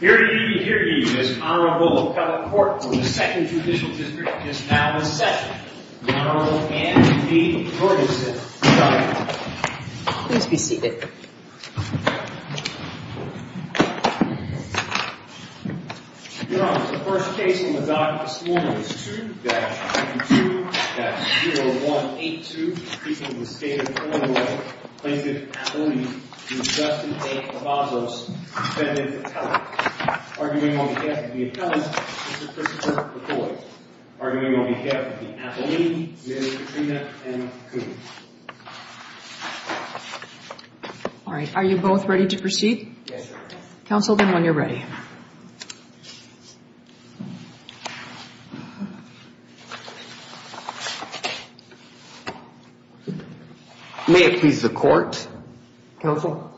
Here ye, here ye, this honorable appellate court of the 2nd Judicial District is now in session. Honorable Anne B. Ferguson, Governor. Please be seated. Your Honor, the first case in the docket this morning is 2-22-0182, in the case of the State of Illinois Plaintiff Appellee Justin A. Cavazos, defendant appellate. Arguing on behalf of the appellant, Mr. Christopher McCoy. Arguing on behalf of the appellee, Ms. Katrina M. Coon. Alright, are you both ready to proceed? Yes, Your Honor. Counsel, then, when you're ready. May it please the court. Counsel.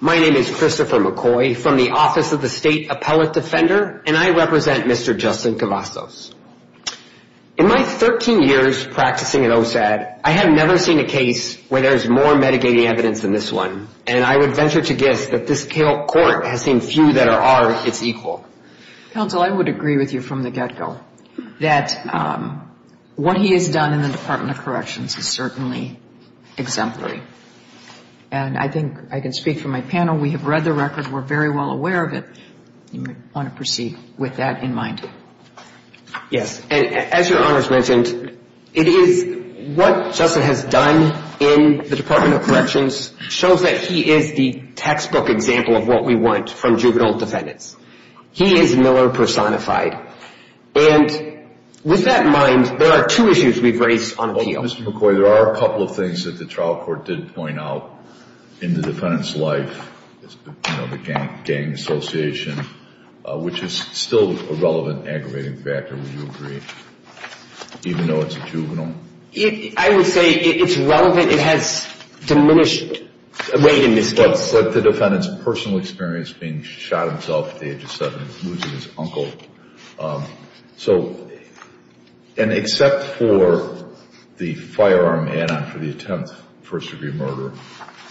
My name is Christopher McCoy from the Office of the State Appellate Defender, and I represent Mr. Justin Cavazos. In my 13 years practicing at OSAD, I have never seen a case where there is more mitigating evidence than this one. And I would venture to guess that this court has seen few that are our, it's equal. Counsel, I would agree with you from the get-go. That what he has done in the Department of Corrections is certainly exemplary. And I think I can speak for my panel. We have read the record. We're very well aware of it. You may want to proceed with that in mind. Yes. And as Your Honor has mentioned, it is what Justin has done in the Department of Corrections shows that he is the textbook example of what we want from juvenile defendants. He is Miller personified. And with that in mind, there are two issues we've raised on appeal. Well, Mr. McCoy, there are a couple of things that the trial court did point out in the defendant's life, you know, the gang association, which is still a relevant aggravating factor, would you agree, even though it's a juvenile? I would say it's relevant. It has diminished weight in this case. But the defendant's personal experience being shot himself at the age of seven, losing his uncle. So, and except for the firearm add-on for the attempt, first-degree murder,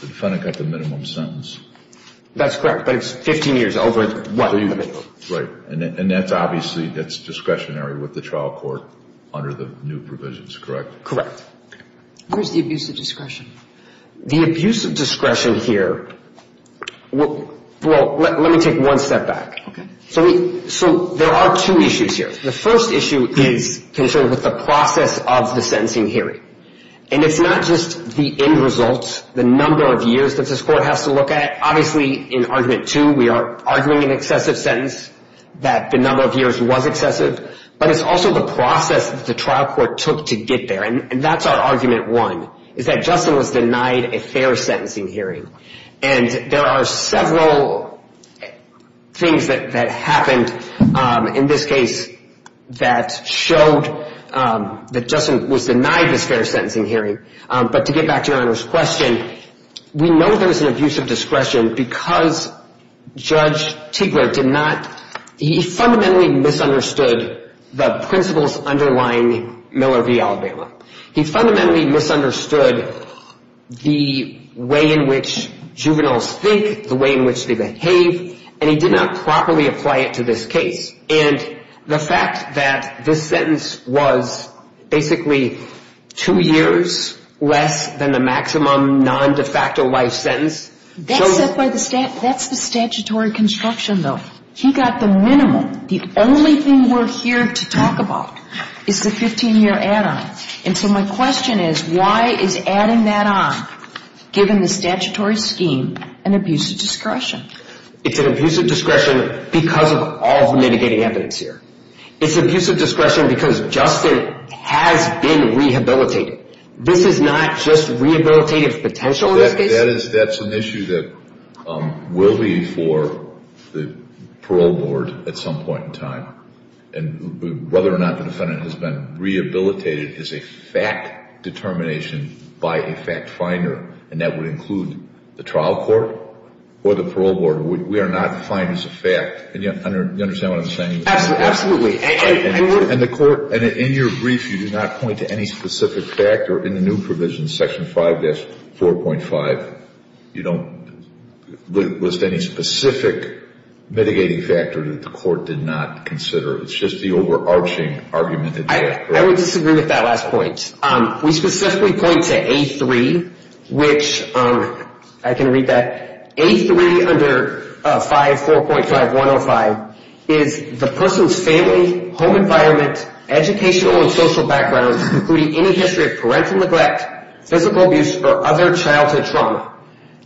the defendant got the minimum sentence. That's correct. But it's 15 years over what? Right. And that's obviously, that's discretionary with the trial court under the new provisions, correct? Correct. Where's the abuse of discretion? The abuse of discretion here, well, let me take one step back. Okay. So there are two issues here. The first issue is concerned with the process of the sentencing hearing. And it's not just the end results, the number of years that this court has to look at. Obviously, in Argument 2, we are arguing an excessive sentence, that the number of years was excessive. But it's also the process that the trial court took to get there. And that's our Argument 1, is that Justin was denied a fair sentencing hearing. And there are several things that happened in this case that showed that Justin was denied this fair sentencing hearing. But to get back to Your Honor's question, we know there was an abuse of discretion because Judge Tiegler did not, he fundamentally misunderstood the principles underlying Miller v. Aldebaran. He fundamentally misunderstood the way in which juveniles think, the way in which they behave, and he did not properly apply it to this case. And the fact that this sentence was basically two years less than the maximum non-de facto life sentence. That's the statutory construction, though. He got the minimum. The only thing we're here to talk about is the 15-year add-on. And so my question is, why is adding that on, given the statutory scheme, an abuse of discretion? It's an abuse of discretion because of all the mitigating evidence here. It's abuse of discretion because Justin has been rehabilitated. This is not just rehabilitative potential in this case. That's an issue that will be for the parole board at some point in time. And whether or not the defendant has been rehabilitated is a fact determination by a fact finder. And that would include the trial court or the parole board. We are not defining it as a fact. Do you understand what I'm saying? Absolutely. And the court, in your brief, you do not point to any specific factor in the new provision, Section 5-4.5. You don't list any specific mitigating factor that the court did not consider. It's just the overarching argument. I would disagree with that last point. We specifically point to A3, which I can read that. A3 under 5-4.5-105 is the person's family, home environment, educational and social background, including any history of parental neglect, physical abuse, or other childhood trauma.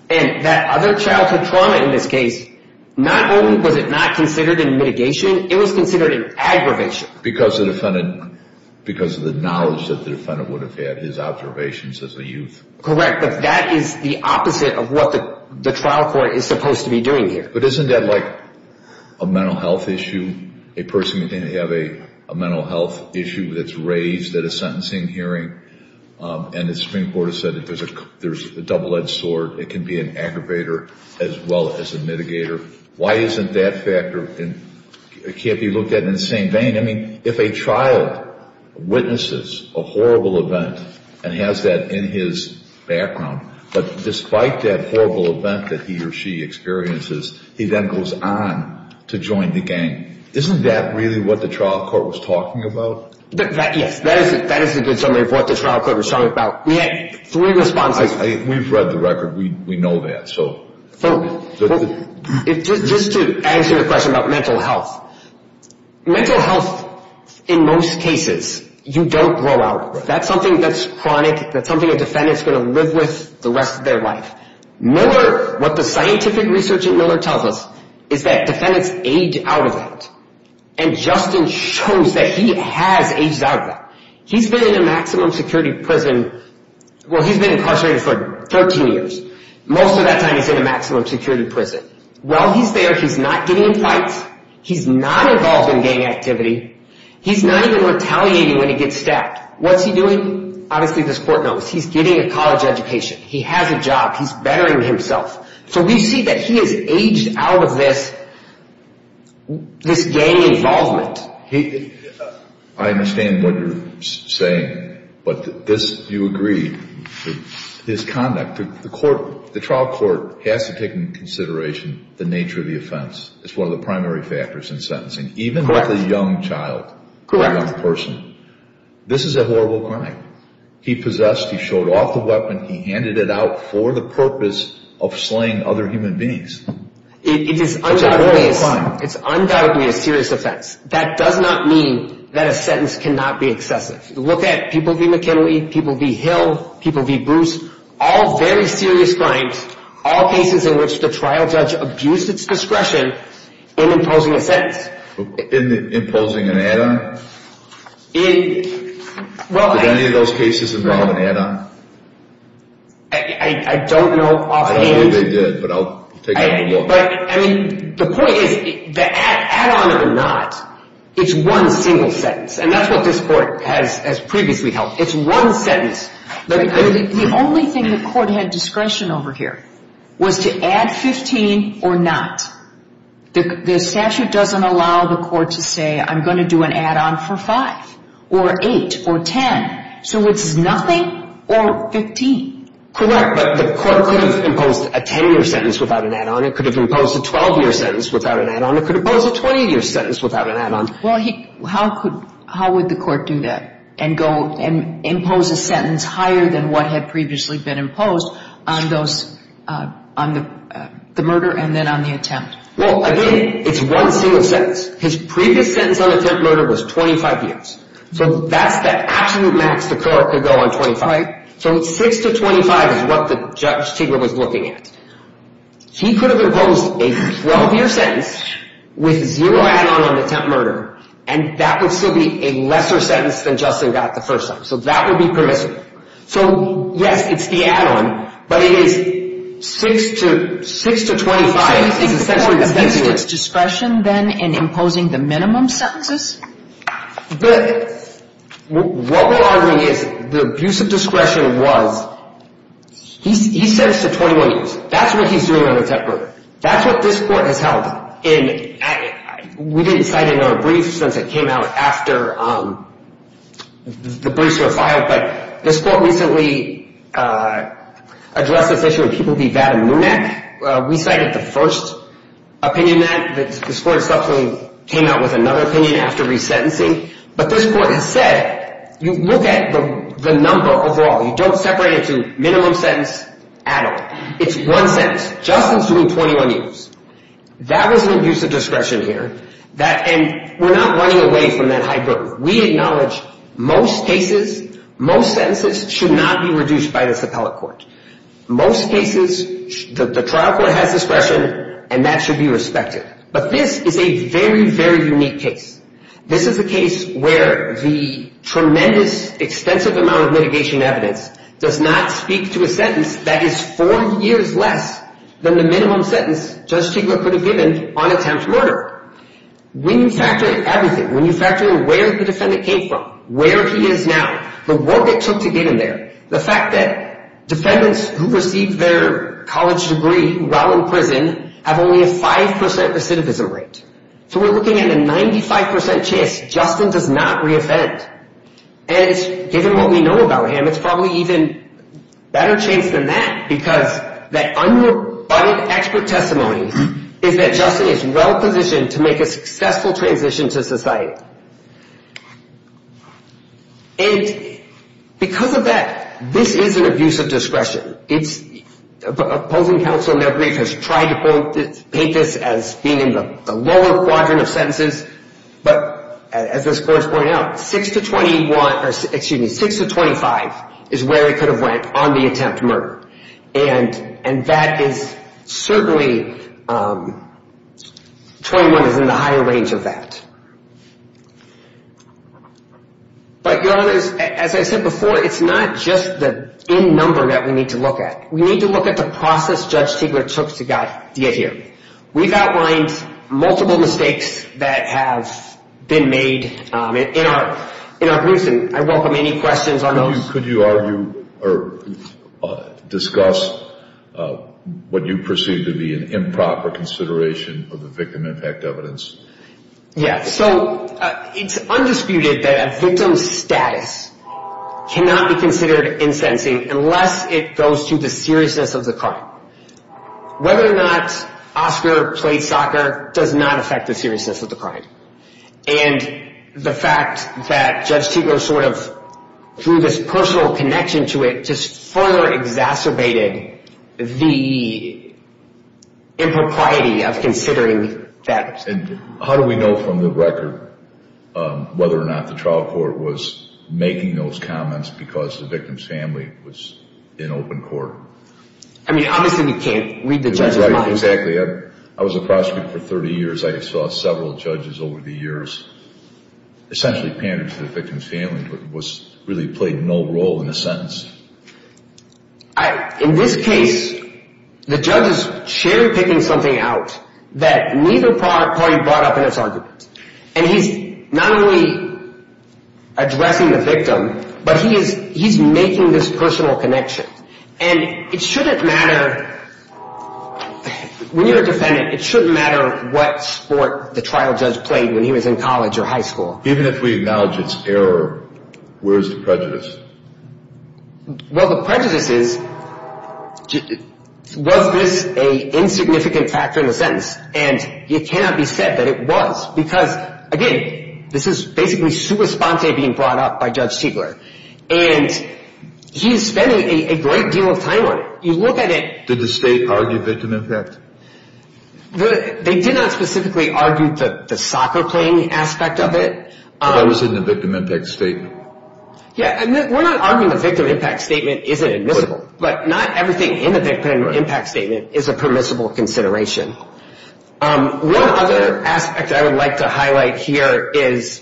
And that other childhood trauma in this case, not only was it not considered in mitigation, it was considered in aggravation. Because of the knowledge that the defendant would have had, his observations as a youth. Correct. But that is the opposite of what the trial court is supposed to be doing here. But isn't that like a mental health issue? A person can have a mental health issue that's raised at a sentencing hearing, and the Supreme Court has said that there's a double-edged sword. It can be an aggravator as well as a mitigator. Why isn't that factor? It can't be looked at in the same vein. I mean, if a child witnesses a horrible event and has that in his background, but despite that horrible event that he or she experiences, he then goes on to join the gang. Isn't that really what the trial court was talking about? Yes, that is a good summary of what the trial court was talking about. We had three responses. We've read the record. We know that. Just to answer your question about mental health. Mental health, in most cases, you don't grow out of it. That's something that's chronic. That's something a defendant is going to live with the rest of their life. Miller, what the scientific research at Miller tells us, is that defendants age out of that. And Justin shows that he has aged out of that. He's been in a maximum security prison. Well, he's been incarcerated for 13 years. Most of that time he's in a maximum security prison. While he's there, he's not getting in fights. He's not involved in gang activity. He's not even retaliating when he gets stabbed. What's he doing? Obviously, this court knows. He's getting a college education. He has a job. He's bettering himself. So we see that he has aged out of this gang involvement. I understand what you're saying. But this, you agree, his conduct. The trial court has to take into consideration the nature of the offense. It's one of the primary factors in sentencing. Correct. Even with a young child. Correct. A young person. This is a horrible crime. He possessed. He showed off the weapon. He handed it out for the purpose of slaying other human beings. It is undoubtedly a serious offense. That does not mean that a sentence cannot be excessive. Look at people v. McKinley. People v. Hill. People v. Bruce. All very serious crimes. All cases in which the trial judge abused its discretion in imposing a sentence. Imposing an add-on? Did any of those cases involve an add-on? I don't know offhand. I know they did, but I'll take a look. The point is, the add-on or not, it's one single sentence. And that's what this court has previously held. It's one sentence. The only thing the court had discretion over here was to add 15 or not. The statute doesn't allow the court to say, I'm going to do an add-on for 5 or 8 or 10. So it's nothing or 15. Correct. But the court could have imposed a 10-year sentence without an add-on. It could have imposed a 12-year sentence without an add-on. It could have imposed a 20-year sentence without an add-on. Well, how would the court do that and impose a sentence higher than what had previously been imposed on the murder and then on the attempt? Well, again, it's one single sentence. His previous sentence on attempt murder was 25 years. So that's the absolute max the court could go on 25. Right. So 6 to 25 is what the judge was looking at. He could have imposed a 12-year sentence with zero add-on on the attempt murder. And that would still be a lesser sentence than Justin got the first time. So that would be permissible. So, yes, it's the add-on, but it is 6 to 25. So you think the court has used its discretion, then, in imposing the minimum sentences? But what we're arguing is the abuse of discretion was he's sentenced to 21 years. That's what he's doing on the attempt murder. That's what this court has held. And we didn't cite another brief since it came out after the briefs were filed. But this court recently addressed this issue of people being VAT and MUMEC. We cited the first opinion in that. This court subsequently came out with another opinion after resentencing. But this court has said you look at the number overall. You don't separate it to minimum sentence at all. It's one sentence. Justin's doing 21 years. That was an abuse of discretion here. And we're not running away from that high burden. We acknowledge most cases, most sentences should not be reduced by this appellate court. Most cases, the trial court has discretion, and that should be respected. But this is a very, very unique case. This is a case where the tremendous extensive amount of litigation evidence does not speak to a sentence that is four years less than the minimum sentence Judge Chigler could have given on attempt murder. When you factor in everything, when you factor in where the defendant came from, where he is now, the work it took to get him there, the fact that defendants who received their college degree while in prison have only a 5% recidivism rate. So we're looking at a 95% chance Justin does not re-offend. And given what we know about him, it's probably even a better chance than that because that unrebutted expert testimony is that Justin is well-positioned to make a successful transition to society. And because of that, this is an abuse of discretion. Opposing counsel has tried to paint this as being in the lower quadrant of sentences, but as the scores point out, 6 to 25 is where it could have went on the attempt murder. And that is certainly, 21 is in the higher range of that. But, Your Honor, as I said before, it's not just the end number that we need to look at. We need to look at the process Judge Chigler took to get here. We've outlined multiple mistakes that have been made in our briefs, and I welcome any questions on those. Could you argue or discuss what you perceive to be an improper consideration of the victim impact evidence? Yeah, so it's undisputed that a victim's status cannot be considered in sentencing unless it goes to the seriousness of the crime. Whether or not Oscar played soccer does not affect the seriousness of the crime. And the fact that Judge Chigler sort of, through this personal connection to it, just further exacerbated the impropriety of considering that. And how do we know from the record whether or not the trial court was making those comments because the victim's family was in open court? I mean, obviously we can't read the judge's mind. Exactly. I was a prosecutor for 30 years. I saw several judges over the years essentially pander to the victim's family, but really played no role in the sentence. In this case, the judge is cherry-picking something out that neither party brought up in its argument. And he's not only addressing the victim, but he's making this personal connection. And it shouldn't matter – when you're a defendant, it shouldn't matter what sport the trial judge played when he was in college or high school. Even if we acknowledge its error, where's the prejudice? Well, the prejudice is, was this an insignificant factor in the sentence? And it cannot be said that it was because, again, this is basically sua sponte being brought up by Judge Chigler. And he's spending a great deal of time on it. Did the state argue victim impact? They did not specifically argue the soccer-playing aspect of it. But that was in the victim impact statement. Yeah, and we're not arguing the victim impact statement isn't admissible. But not everything in the victim impact statement is a permissible consideration. One other aspect I would like to highlight here is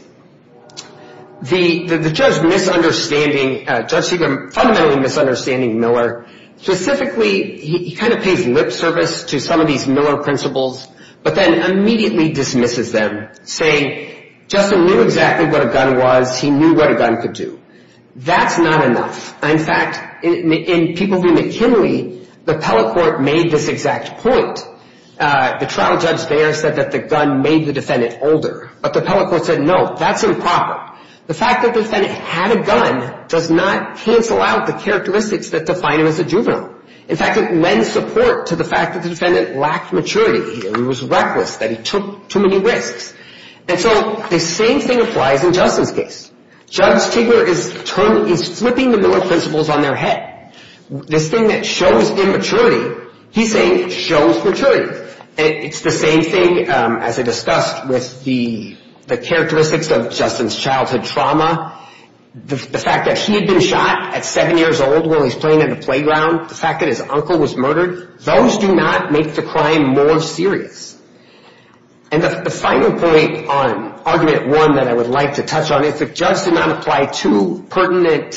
the judge misunderstanding – Judge Chigler fundamentally misunderstanding Miller. Specifically, he kind of pays lip service to some of these Miller principles, but then immediately dismisses them, saying, Justin knew exactly what a gun was. He knew what a gun could do. That's not enough. In fact, in People v. McKinley, the appellate court made this exact point. The trial judge there said that the gun made the defendant older. But the appellate court said, no, that's improper. The fact that the defendant had a gun does not cancel out the characteristics that define him as a juvenile. In fact, it lends support to the fact that the defendant lacked maturity. He was reckless, that he took too many risks. And so the same thing applies in Justin's case. Judge Chigler is flipping the Miller principles on their head. This thing that shows immaturity, he's saying, shows maturity. It's the same thing, as I discussed, with the characteristics of Justin's childhood trauma. The fact that he had been shot at seven years old while he was playing at a playground. The fact that his uncle was murdered. Those do not make the crime more serious. And the final point on Argument 1 that I would like to touch on is the judge did not apply two pertinent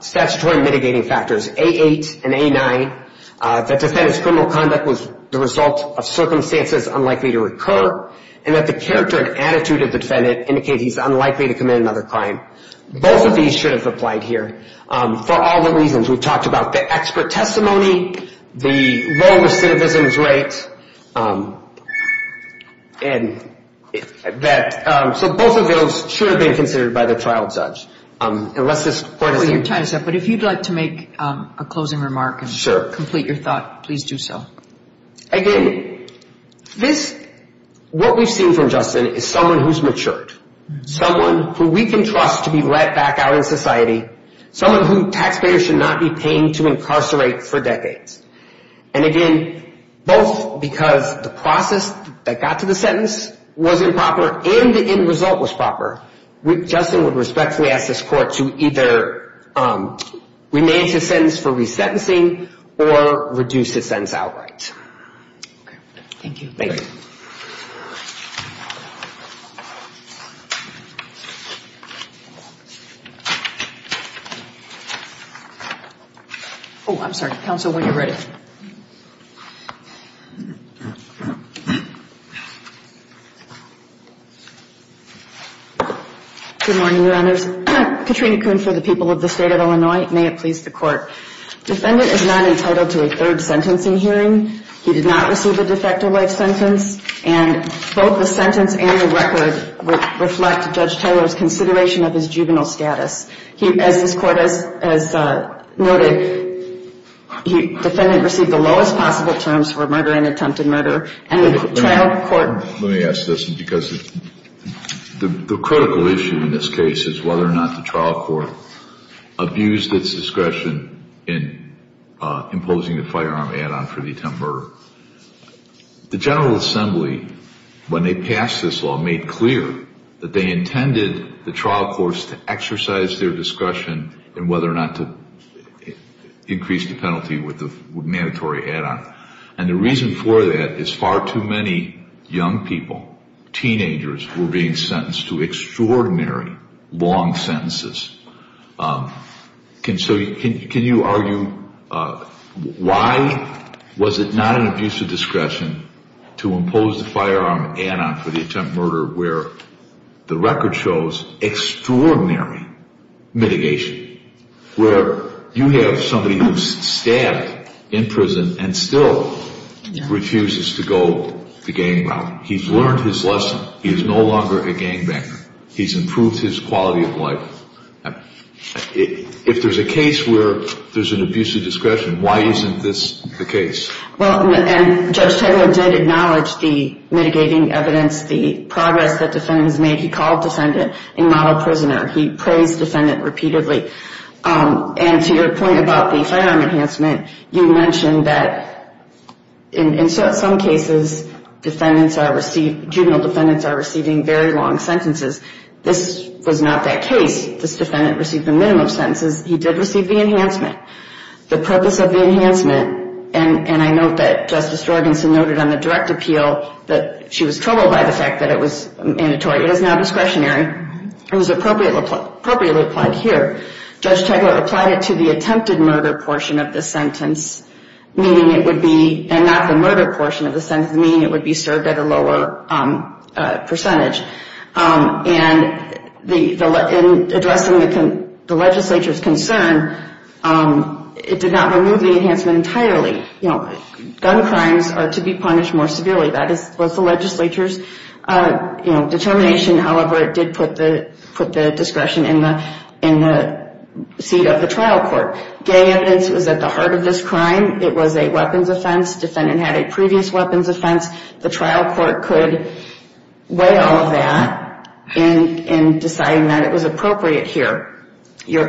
statutory mitigating factors, A8 and A9. That the defendant's criminal conduct was the result of circumstances unlikely to occur. And that the character and attitude of the defendant indicate he's unlikely to commit another crime. Both of these should have applied here for all the reasons we've talked about. The expert testimony, the low recidivism rate. So both of those should have been considered by the trial judge. But if you'd like to make a closing remark and complete your thought, please do so. Again, what we've seen from Justin is someone who's matured. Someone who we can trust to be let back out in society. Someone who taxpayers should not be paying to incarcerate for decades. And again, both because the process that got to the sentence was improper and the end result was proper. Justin would respectfully ask this court to either remain his sentence for resentencing or reduce his sentence outright. Thank you. Thank you. Oh, I'm sorry. Counsel, when you're ready. Good morning, Your Honors. Katrina Kuhn for the people of the State of Illinois. May it please the Court. Defendant is not entitled to a third sentencing hearing. He did not receive a de facto life sentence. And both the sentence and the record reflect Judge Taylor's consideration of his juvenile status. As this Court has noted, the defendant received the lowest possible terms for murder and attempted murder. And the trial court- Let me ask this because the critical issue in this case is whether or not the trial court abused its discretion in imposing the firearm add-on for the attempted murder. The General Assembly, when they passed this law, made clear that they intended the trial courts to exercise their discretion in whether or not to increase the penalty with the mandatory add-on. And the reason for that is far too many young people, teenagers, were being sentenced to extraordinary long sentences. Can you argue why was it not an abuse of discretion to impose the firearm add-on for the attempted murder where the record shows extraordinary mitigation? Where you have somebody who's stabbed in prison and still refuses to go the gang route. He's learned his lesson. He is no longer a gangbanger. He's improved his quality of life. If there's a case where there's an abuse of discretion, why isn't this the case? Well, and Judge Taylor did acknowledge the mitigating evidence, the progress that defendants made. He called defendant a model prisoner. He praised defendant repeatedly. And to your point about the firearm enhancement, you mentioned that in some cases, juvenile defendants are receiving very long sentences. This was not that case. This defendant received the minimum sentences. He did receive the enhancement. The purpose of the enhancement, and I note that Justice Jorgensen noted on the direct appeal that she was troubled by the fact that it was mandatory. It is now discretionary. It was appropriately applied here. Judge Taylor applied it to the attempted murder portion of the sentence, meaning it would be, and not the murder portion of the sentence, meaning it would be served at a lower percentage. And in addressing the legislature's concern, it did not remove the enhancement entirely. Gun crimes are to be punished more severely. That was the legislature's determination. However, it did put the discretion in the seat of the trial court. Gay evidence was at the heart of this crime. It was a weapons offense. Defendant had a previous weapons offense. The trial court could weigh all of that in deciding that it was appropriate here. Your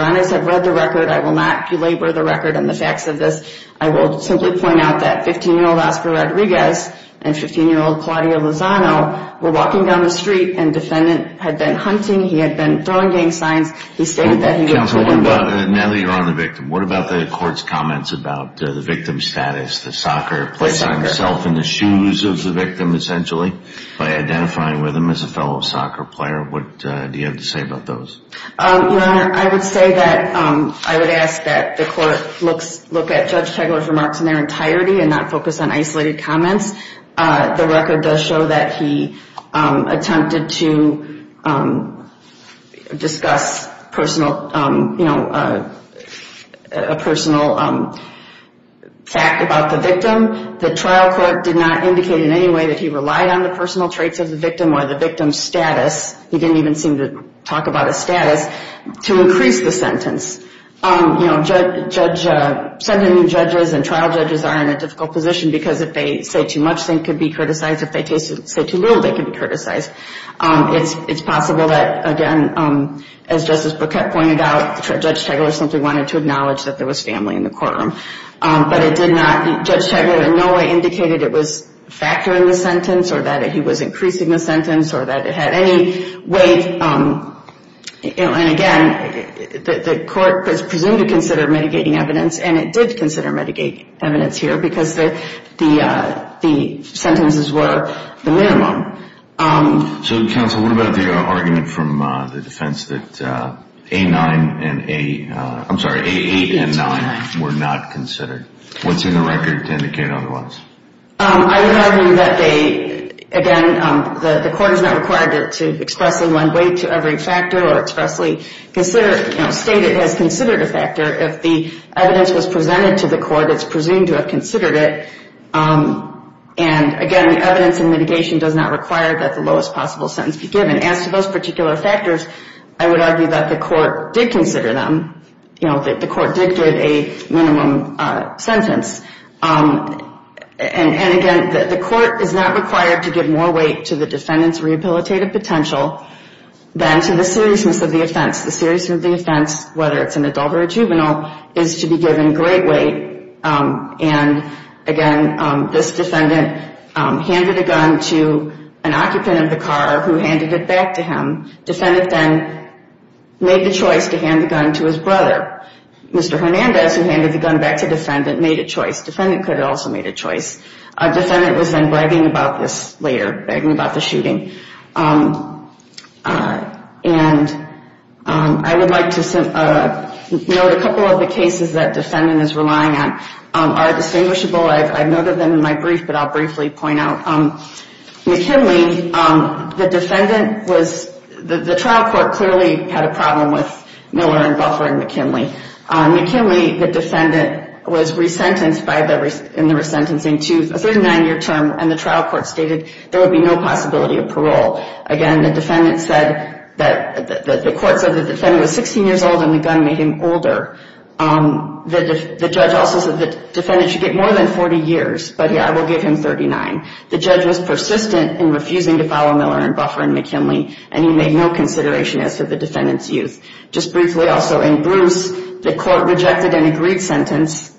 Honors, I've read the record. I will not belabor the record and the facts of this. I will simply point out that 15-year-old Oscar Rodriguez and 15-year-old Claudia Lozano were walking down the street, and defendant had been hunting. He had been throwing gang signs. He stated that he was a victim. Natalie, you're on the victim. What about the court's comments about the victim's status, the soccer, placing himself in the shoes of the victim, essentially, by identifying with him as a fellow soccer player? What do you have to say about those? Your Honor, I would say that I would ask that the court look at Judge Tegeler's remarks in their entirety and not focus on isolated comments. The record does show that he attempted to discuss a personal fact about the victim. The trial court did not indicate in any way that he relied on the personal traits of the victim or the victim's status. He didn't even seem to talk about his status to increase the sentence. Seven new judges and trial judges are in a difficult position because if they say too much, they could be criticized. If they say too little, they could be criticized. It's possible that, again, as Justice Burkett pointed out, Judge Tegeler simply wanted to acknowledge that there was family in the courtroom, but it did not. Judge Tegeler in no way indicated it was factoring the sentence or that he was increasing the sentence or that it had any weight. Again, the court was presumed to consider mitigating evidence, and it did consider mitigating evidence here because the sentences were the minimum. Counsel, what about the argument from the defense that A8 and 9 were not considered? What's in the record to indicate otherwise? I would argue that, again, the court is not required to expressly lend weight to every factor or expressly state it has considered a factor. If the evidence was presented to the court, it's presumed to have considered it. And, again, evidence and mitigation does not require that the lowest possible sentence be given. As to those particular factors, I would argue that the court did consider them, that the court dictated a minimum sentence. And, again, the court is not required to give more weight to the defendant's rehabilitative potential than to the seriousness of the offense. The seriousness of the offense, whether it's an adult or a juvenile, is to be given great weight. And, again, this defendant handed a gun to an occupant of the car who handed it back to him. Defendant then made the choice to hand the gun to his brother. Mr. Hernandez, who handed the gun back to defendant, made a choice. Defendant could have also made a choice. Defendant was then bragging about this later, bragging about the shooting. And I would like to note a couple of the cases that defendant is relying on are distinguishable. I've noted them in my brief, but I'll briefly point out. McKinley, the defendant was, the trial court clearly had a problem with Miller and Buffer and McKinley. McKinley, the defendant, was resentenced in the resentencing to a 39-year term, and the trial court stated there would be no possibility of parole. Again, the defendant said that the court said the defendant was 16 years old and the gun made him older. The judge also said the defendant should get more than 40 years, but, yeah, I will give him 39. The judge was persistent in refusing to follow Miller and Buffer and McKinley, and he made no consideration as to the defendant's youth. Just briefly, also, in Bruce, the court rejected an agreed sentence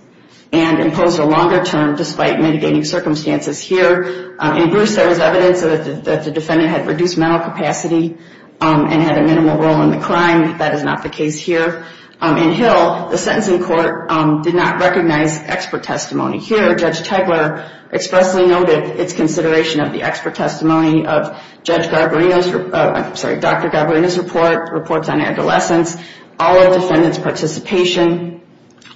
and imposed a longer term despite mitigating circumstances here. In Bruce, there was evidence that the defendant had reduced mental capacity and had a minimal role in the crime. That is not the case here. In Hill, the sentencing court did not recognize expert testimony. Here, Judge Tegeler expressly noted its consideration of the expert testimony of Judge Garbarino's, I'm sorry, Dr. Garbarino's report, reports on adolescence, all of defendant's participation,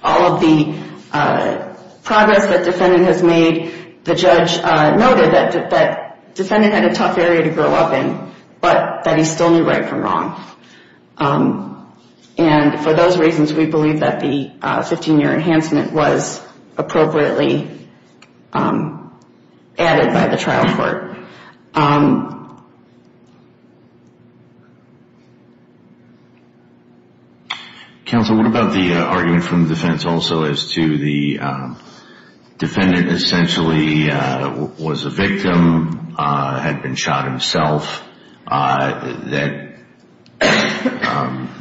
all of the progress that defendant has made. The judge noted that defendant had a tough area to grow up in, but that he still knew right from wrong. And for those reasons, we believe that the 15-year enhancement was appropriately added by the trial court. Counsel, what about the argument from the defense also as to the defendant essentially was a victim, had been shot himself, that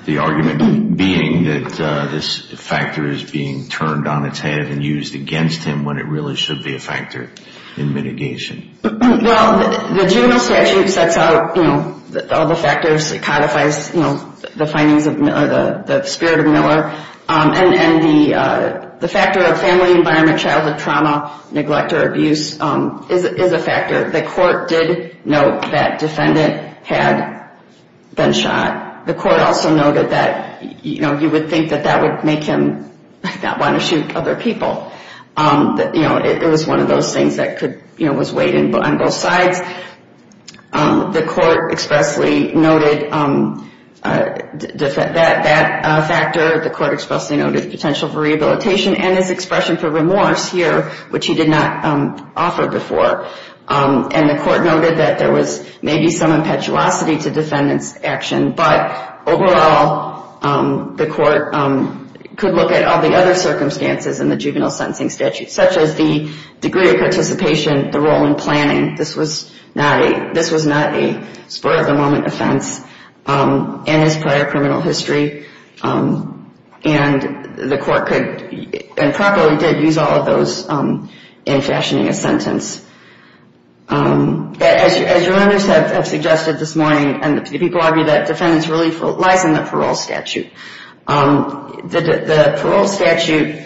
the argument being that this factor is being turned on its head and used against him when it really should be a factor in mitigation? Well, the juvenile statute sets out, you know, all the factors. It codifies, you know, the findings of the spirit of Miller. And the factor of family environment, childhood trauma, neglect or abuse is a factor. The court did note that defendant had been shot. The court also noted that, you know, you would think that that would make him not want to shoot other people. You know, it was one of those things that could, you know, was weighed on both sides. The court expressly noted that factor. The court expressly noted potential for rehabilitation and his expression for remorse here, which he did not offer before. And the court noted that there was maybe some impetuosity to defendant's action. But overall, the court could look at all the other circumstances in the juvenile sentencing statute, such as the degree of participation, the role in planning. This was not a spur-of-the-moment offense in his prior criminal history. And the court could and probably did use all of those in fashioning a sentence. As your members have suggested this morning, and people argue that defendant's relief lies in the parole statute, the parole statute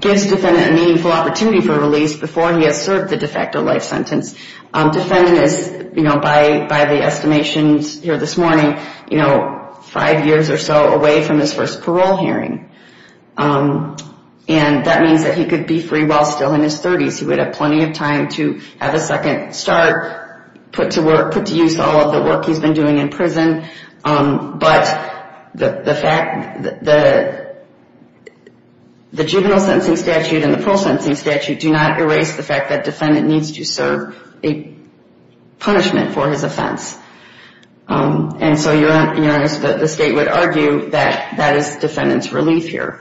gives defendant a meaningful opportunity for release before he has served the de facto life sentence. Defendant is, you know, by the estimations here this morning, you know, five years or so away from his first parole hearing. And that means that he could be free while still in his 30s. He would have plenty of time to have a second start, put to work, put to use all of the work he's been doing in prison. But the fact that the juvenile sentencing statute and the parole sentencing statute do not erase the fact that defendant needs to serve a punishment for his offense. And so you're honest that the state would argue that that is defendant's relief here.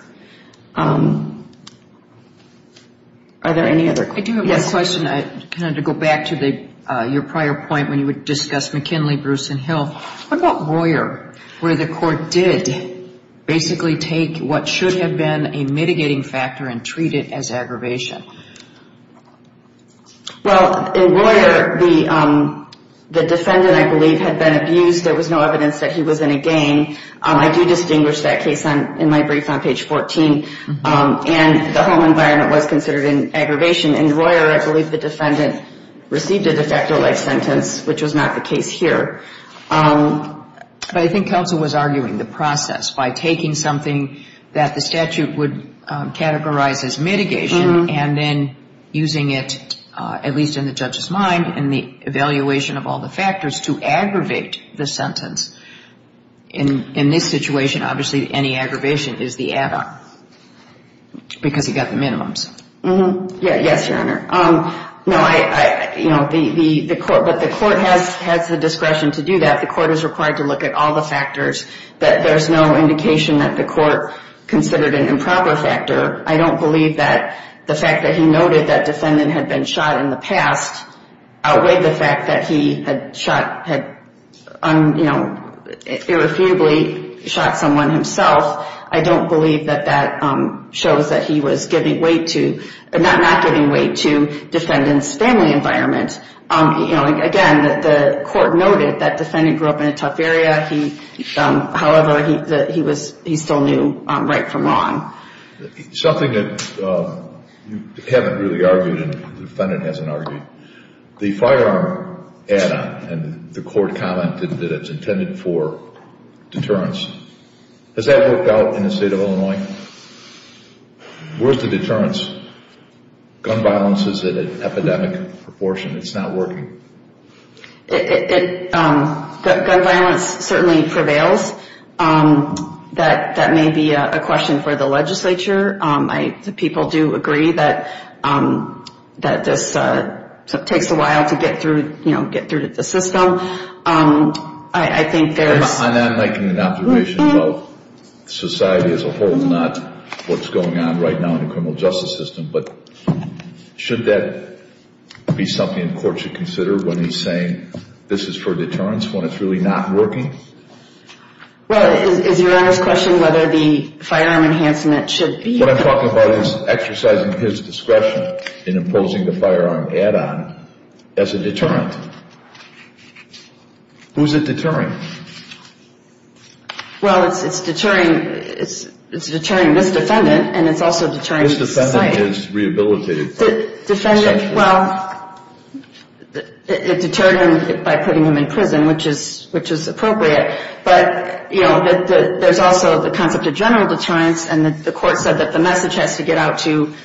Are there any other questions? I do have a question, kind of to go back to your prior point when you would discuss McKinley, Bruce, and Hill. What about Royer, where the court did basically take what should have been a mitigating factor and treat it as aggravation? Well, in Royer, the defendant, I believe, had been abused. There was no evidence that he was in a gang. I do distinguish that case in my brief on page 14. And the home environment was considered an aggravation. In Royer, I believe the defendant received a de facto life sentence, which was not the case here. But I think counsel was arguing the process by taking something that the statute would categorize as mitigation, and then using it, at least in the judge's mind, in the evaluation of all the factors, to aggravate the sentence. In this situation, obviously, any aggravation is the add-on, because he got the minimums. Yes, Your Honor. But the court has the discretion to do that. The court is required to look at all the factors that there's no indication that the court considered an improper factor. I don't believe that the fact that he noted that defendant had been shot in the past outweighed the fact that he had irrefutably shot someone himself. I don't believe that that shows that he was not giving weight to defendant's family environment. Again, the court noted that defendant grew up in a tough area. However, he still knew right from wrong. Something that you haven't really argued and the defendant hasn't argued, the firearm add-on, and the court comment that it's intended for deterrence, has that worked out in the state of Illinois? Where's the deterrence? Gun violence is at an epidemic proportion. It's not working. Gun violence certainly prevails. That may be a question for the legislature. The people do agree that this takes a while to get through to the system. I'm not making an observation about society as a whole, not what's going on right now in the criminal justice system. But should that be something the court should consider when he's saying this is for deterrence when it's really not working? Well, is Your Honor's question whether the firearm enhancement should be? What I'm talking about is exercising his discretion in imposing the firearm add-on as a deterrent. Who's it deterring? Well, it's deterring this defendant and it's also deterring society. Defendant, well, it deterred him by putting him in prison, which is appropriate. But there's also the concept of general deterrence and the court said that the message has to get out to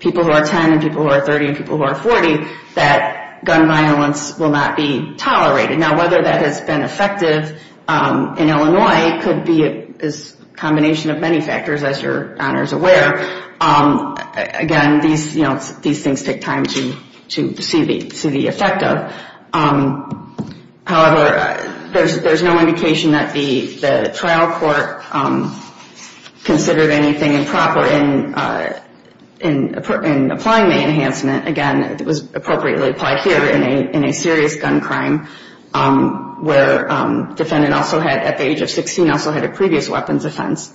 people who are 10 and people who are 30 and people who are 40 that gun violence will not be tolerated. Now, whether that has been effective in Illinois could be a combination of many factors, as Your Honor's aware. Again, these things take time to see the effect of. However, there's no indication that the trial court considered anything improper in applying the enhancement. Again, it was appropriately applied here in a serious gun crime where defendant also had, at the age of 16, also had a previous weapons offense.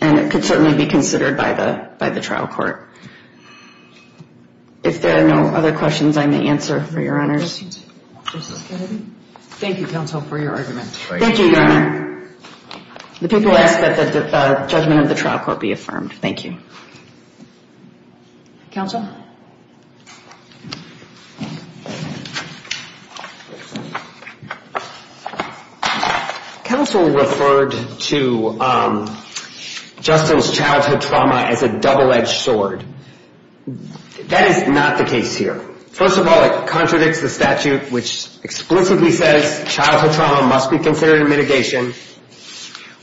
And it could certainly be considered by the trial court. If there are no other questions, I may answer for Your Honor's. Thank you, counsel, for your argument. Thank you, Your Honor. The people ask that the judgment of the trial court be affirmed. Thank you. Counsel? Counsel referred to Justin's childhood trauma as a double-edged sword. That is not the case here. First of all, it contradicts the statute, which explicitly says childhood trauma must be considered a mitigation.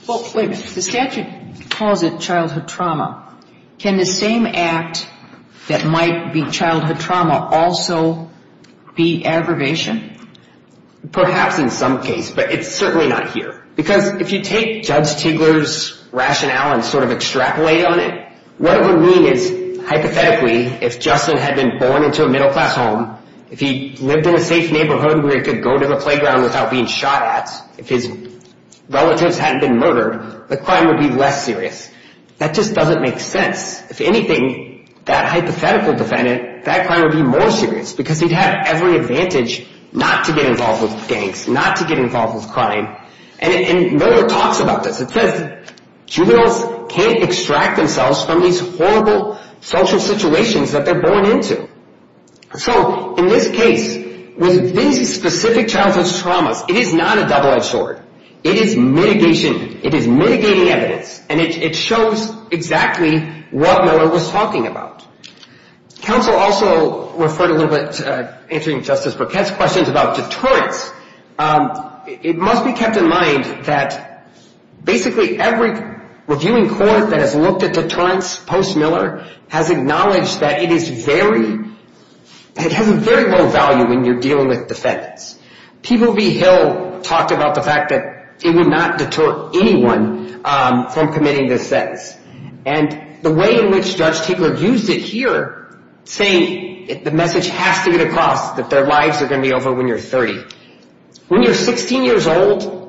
Well, wait a minute. The statute calls it childhood trauma. Can the same act that might be childhood trauma also be aggravation? Perhaps in some case, but it's certainly not here. Because if you take Judge Tegeler's rationale and sort of extrapolate on it, what it would mean is, hypothetically, if Justin had been born into a middle-class home, if he lived in a safe neighborhood where he could go to the playground without being shot at, if his relatives hadn't been murdered, the crime would be less serious. That just doesn't make sense. If anything, that hypothetical defendant, that crime would be more serious. Because he'd have every advantage not to get involved with gangs, not to get involved with crime. And Miller talks about this. It says juveniles can't extract themselves from these horrible social situations that they're born into. So in this case, with these specific childhood traumas, it is not a double-edged sword. It is mitigation. It is mitigating evidence. And it shows exactly what Miller was talking about. Counsel also referred a little bit to answering Justice Burkett's questions about deterrence. It must be kept in mind that basically every reviewing court that has looked at deterrence post-Miller has acknowledged that it is very, it has a very low value when you're dealing with defendants. People v. Hill talked about the fact that it would not deter anyone from committing this sentence. And the way in which Judge Tiegler used it here, saying the message has to get across, that their lives are going to be over when you're 30. When you're 16 years old,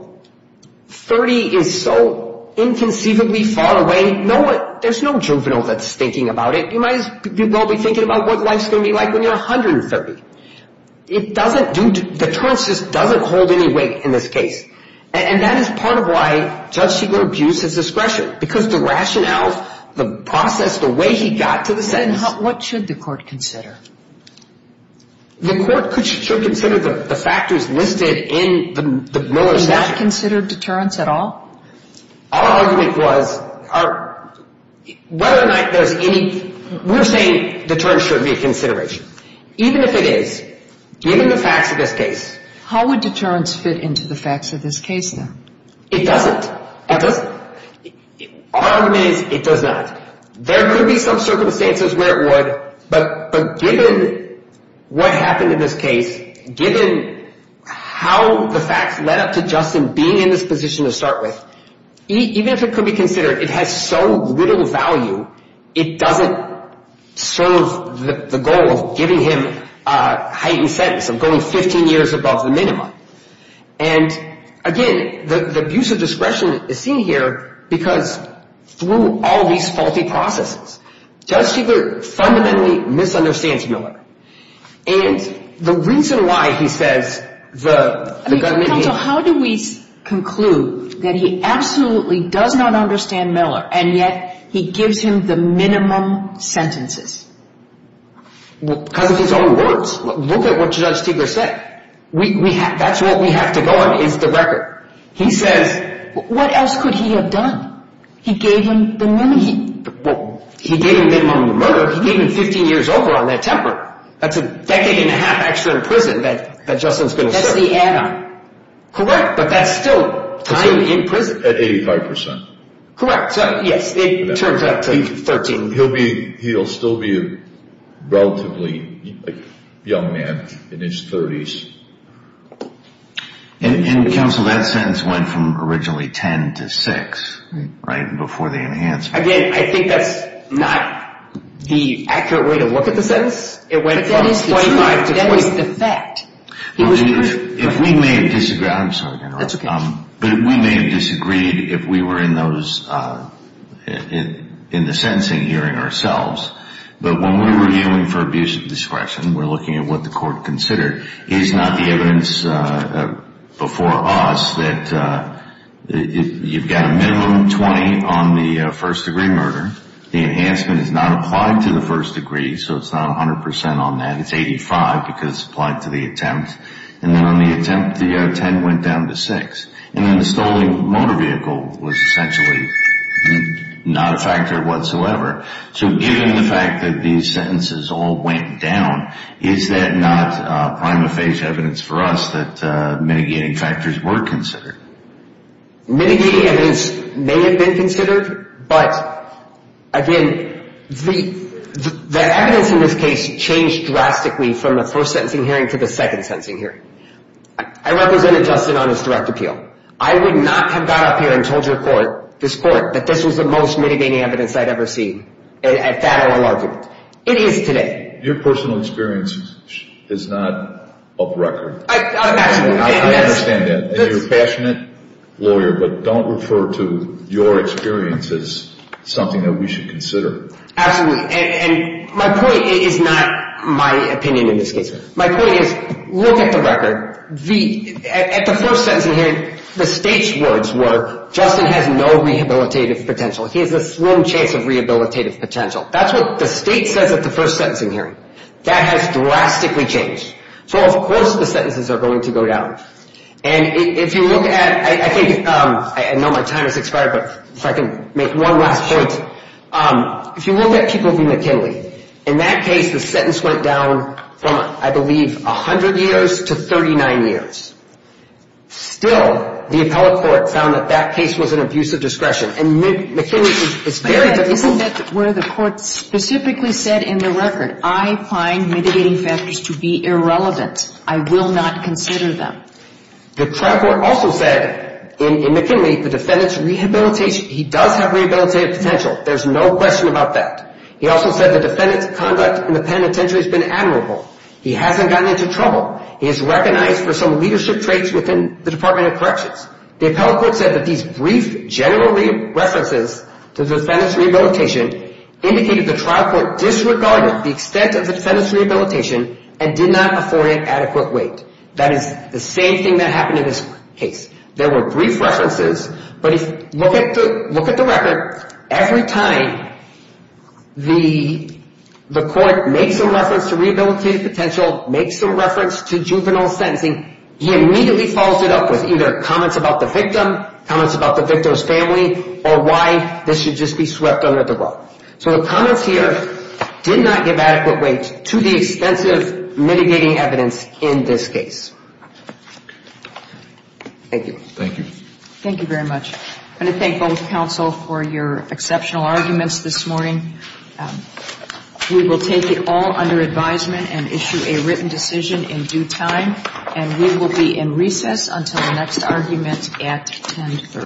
30 is so inconceivably far away, there's no juvenile that's thinking about it. You might as well be thinking about what life's going to be like when you're 130. It doesn't do, deterrence just doesn't hold any weight in this case. And that is part of why Judge Tiegler abused his discretion, because the rationale, the process, the way he got to the sentence. And what should the court consider? The court should consider the factors listed in the Miller statute. Is that considered deterrence at all? Our argument was, whether or not there's any, we're saying deterrence should be a consideration. Even if it is, given the facts of this case. How would deterrence fit into the facts of this case, then? It doesn't. Our argument is, it does not. There could be some circumstances where it would, but given what happened in this case, given how the facts led up to Justin being in this position to start with, even if it could be considered, it has so little value, it doesn't serve the goal of giving him a heightened sentence, of going 15 years above the minimum. And again, the abuse of discretion is seen here, because through all these faulty processes, Judge Tiegler fundamentally misunderstands Miller. How do we conclude that he absolutely does not understand Miller, and yet he gives him the minimum sentences? Because of his own words. Look at what Judge Tiegler said. That's what we have to go on, is the record. He says, what else could he have done? He gave him the minimum murder, he gave him 15 years over on that temper. That's a decade and a half extra in prison that Justin's going to serve. But that's still time in prison. He'll still be a relatively young man in his 30s. And counsel, that sentence went from originally 10 to 6, right? Again, I think that's not the accurate way to look at the sentence. That is the fact. We may have disagreed if we were in the sentencing hearing ourselves, but when we were dealing for abuse of discretion, we're looking at what the court considered. Here's not the evidence before us that you've got a minimum of 20 on the first-degree murder. The enhancement is not applied to the first degree, so it's not 100 percent on that. It's 85 because it's applied to the attempt. And then on the attempt, the 10 went down to 6. And then the stolen motor vehicle was essentially not a factor whatsoever. So given the fact that these sentences all went down, is that not prima facie evidence for us that mitigating factors were considered? Mitigating evidence may have been considered, but again, the evidence in this case changed drastically from the first sentencing hearing to the second sentencing hearing. I represented Justin on his direct appeal. I would not have got up here and told your court, this court, that this was the most mitigating evidence I'd ever seen at that OLL argument. It is today. Your personal experience is not of record. I understand that. You're a passionate lawyer, but don't refer to your experience as something that we should consider. Absolutely. And my point is not my opinion in this case. My point is, look at the record. At the first sentencing hearing, the state's words were, Justin has no rehabilitative potential. He has a slim chance of rehabilitative potential. That's what the state says at the first sentencing hearing. That has drastically changed. So of course the sentences are going to go down. I know my time has expired, but if I can make one last point. If you look at people v. McKinley, in that case the sentence went down from, I believe, 100 years to 39 years. Still, the appellate court found that that case was an abuse of discretion. Isn't that where the court specifically said in the record, I find mitigating factors to be irrelevant. I will not consider them. The trial court also said in McKinley the defendant's rehabilitation, he does have rehabilitative potential. There's no question about that. He also said the defendant's conduct in the penitentiary has been admirable. He hasn't gotten into trouble. He is recognized for some leadership traits within the Department of Corrections. The appellate court said that these brief general references to the defendant's rehabilitation indicated the trial court disregarded the extent of the defendant's rehabilitation and did not afford it adequate weight. That is the same thing that happened in this case. There were brief references, but look at the record. Every time the court makes a reference to rehabilitative potential, makes a reference to juvenile sentencing, he immediately follows it up with either comments about the victim, comments about the victim's family, or why this should just be swept under the rug. So the comments here did not give adequate weight to the extensive mitigating evidence in this case. Thank you. I want to thank both counsel for your exceptional arguments this morning. We will take it all under advisement and issue a written decision in due time, and we will be in recess until the next argument at 1030.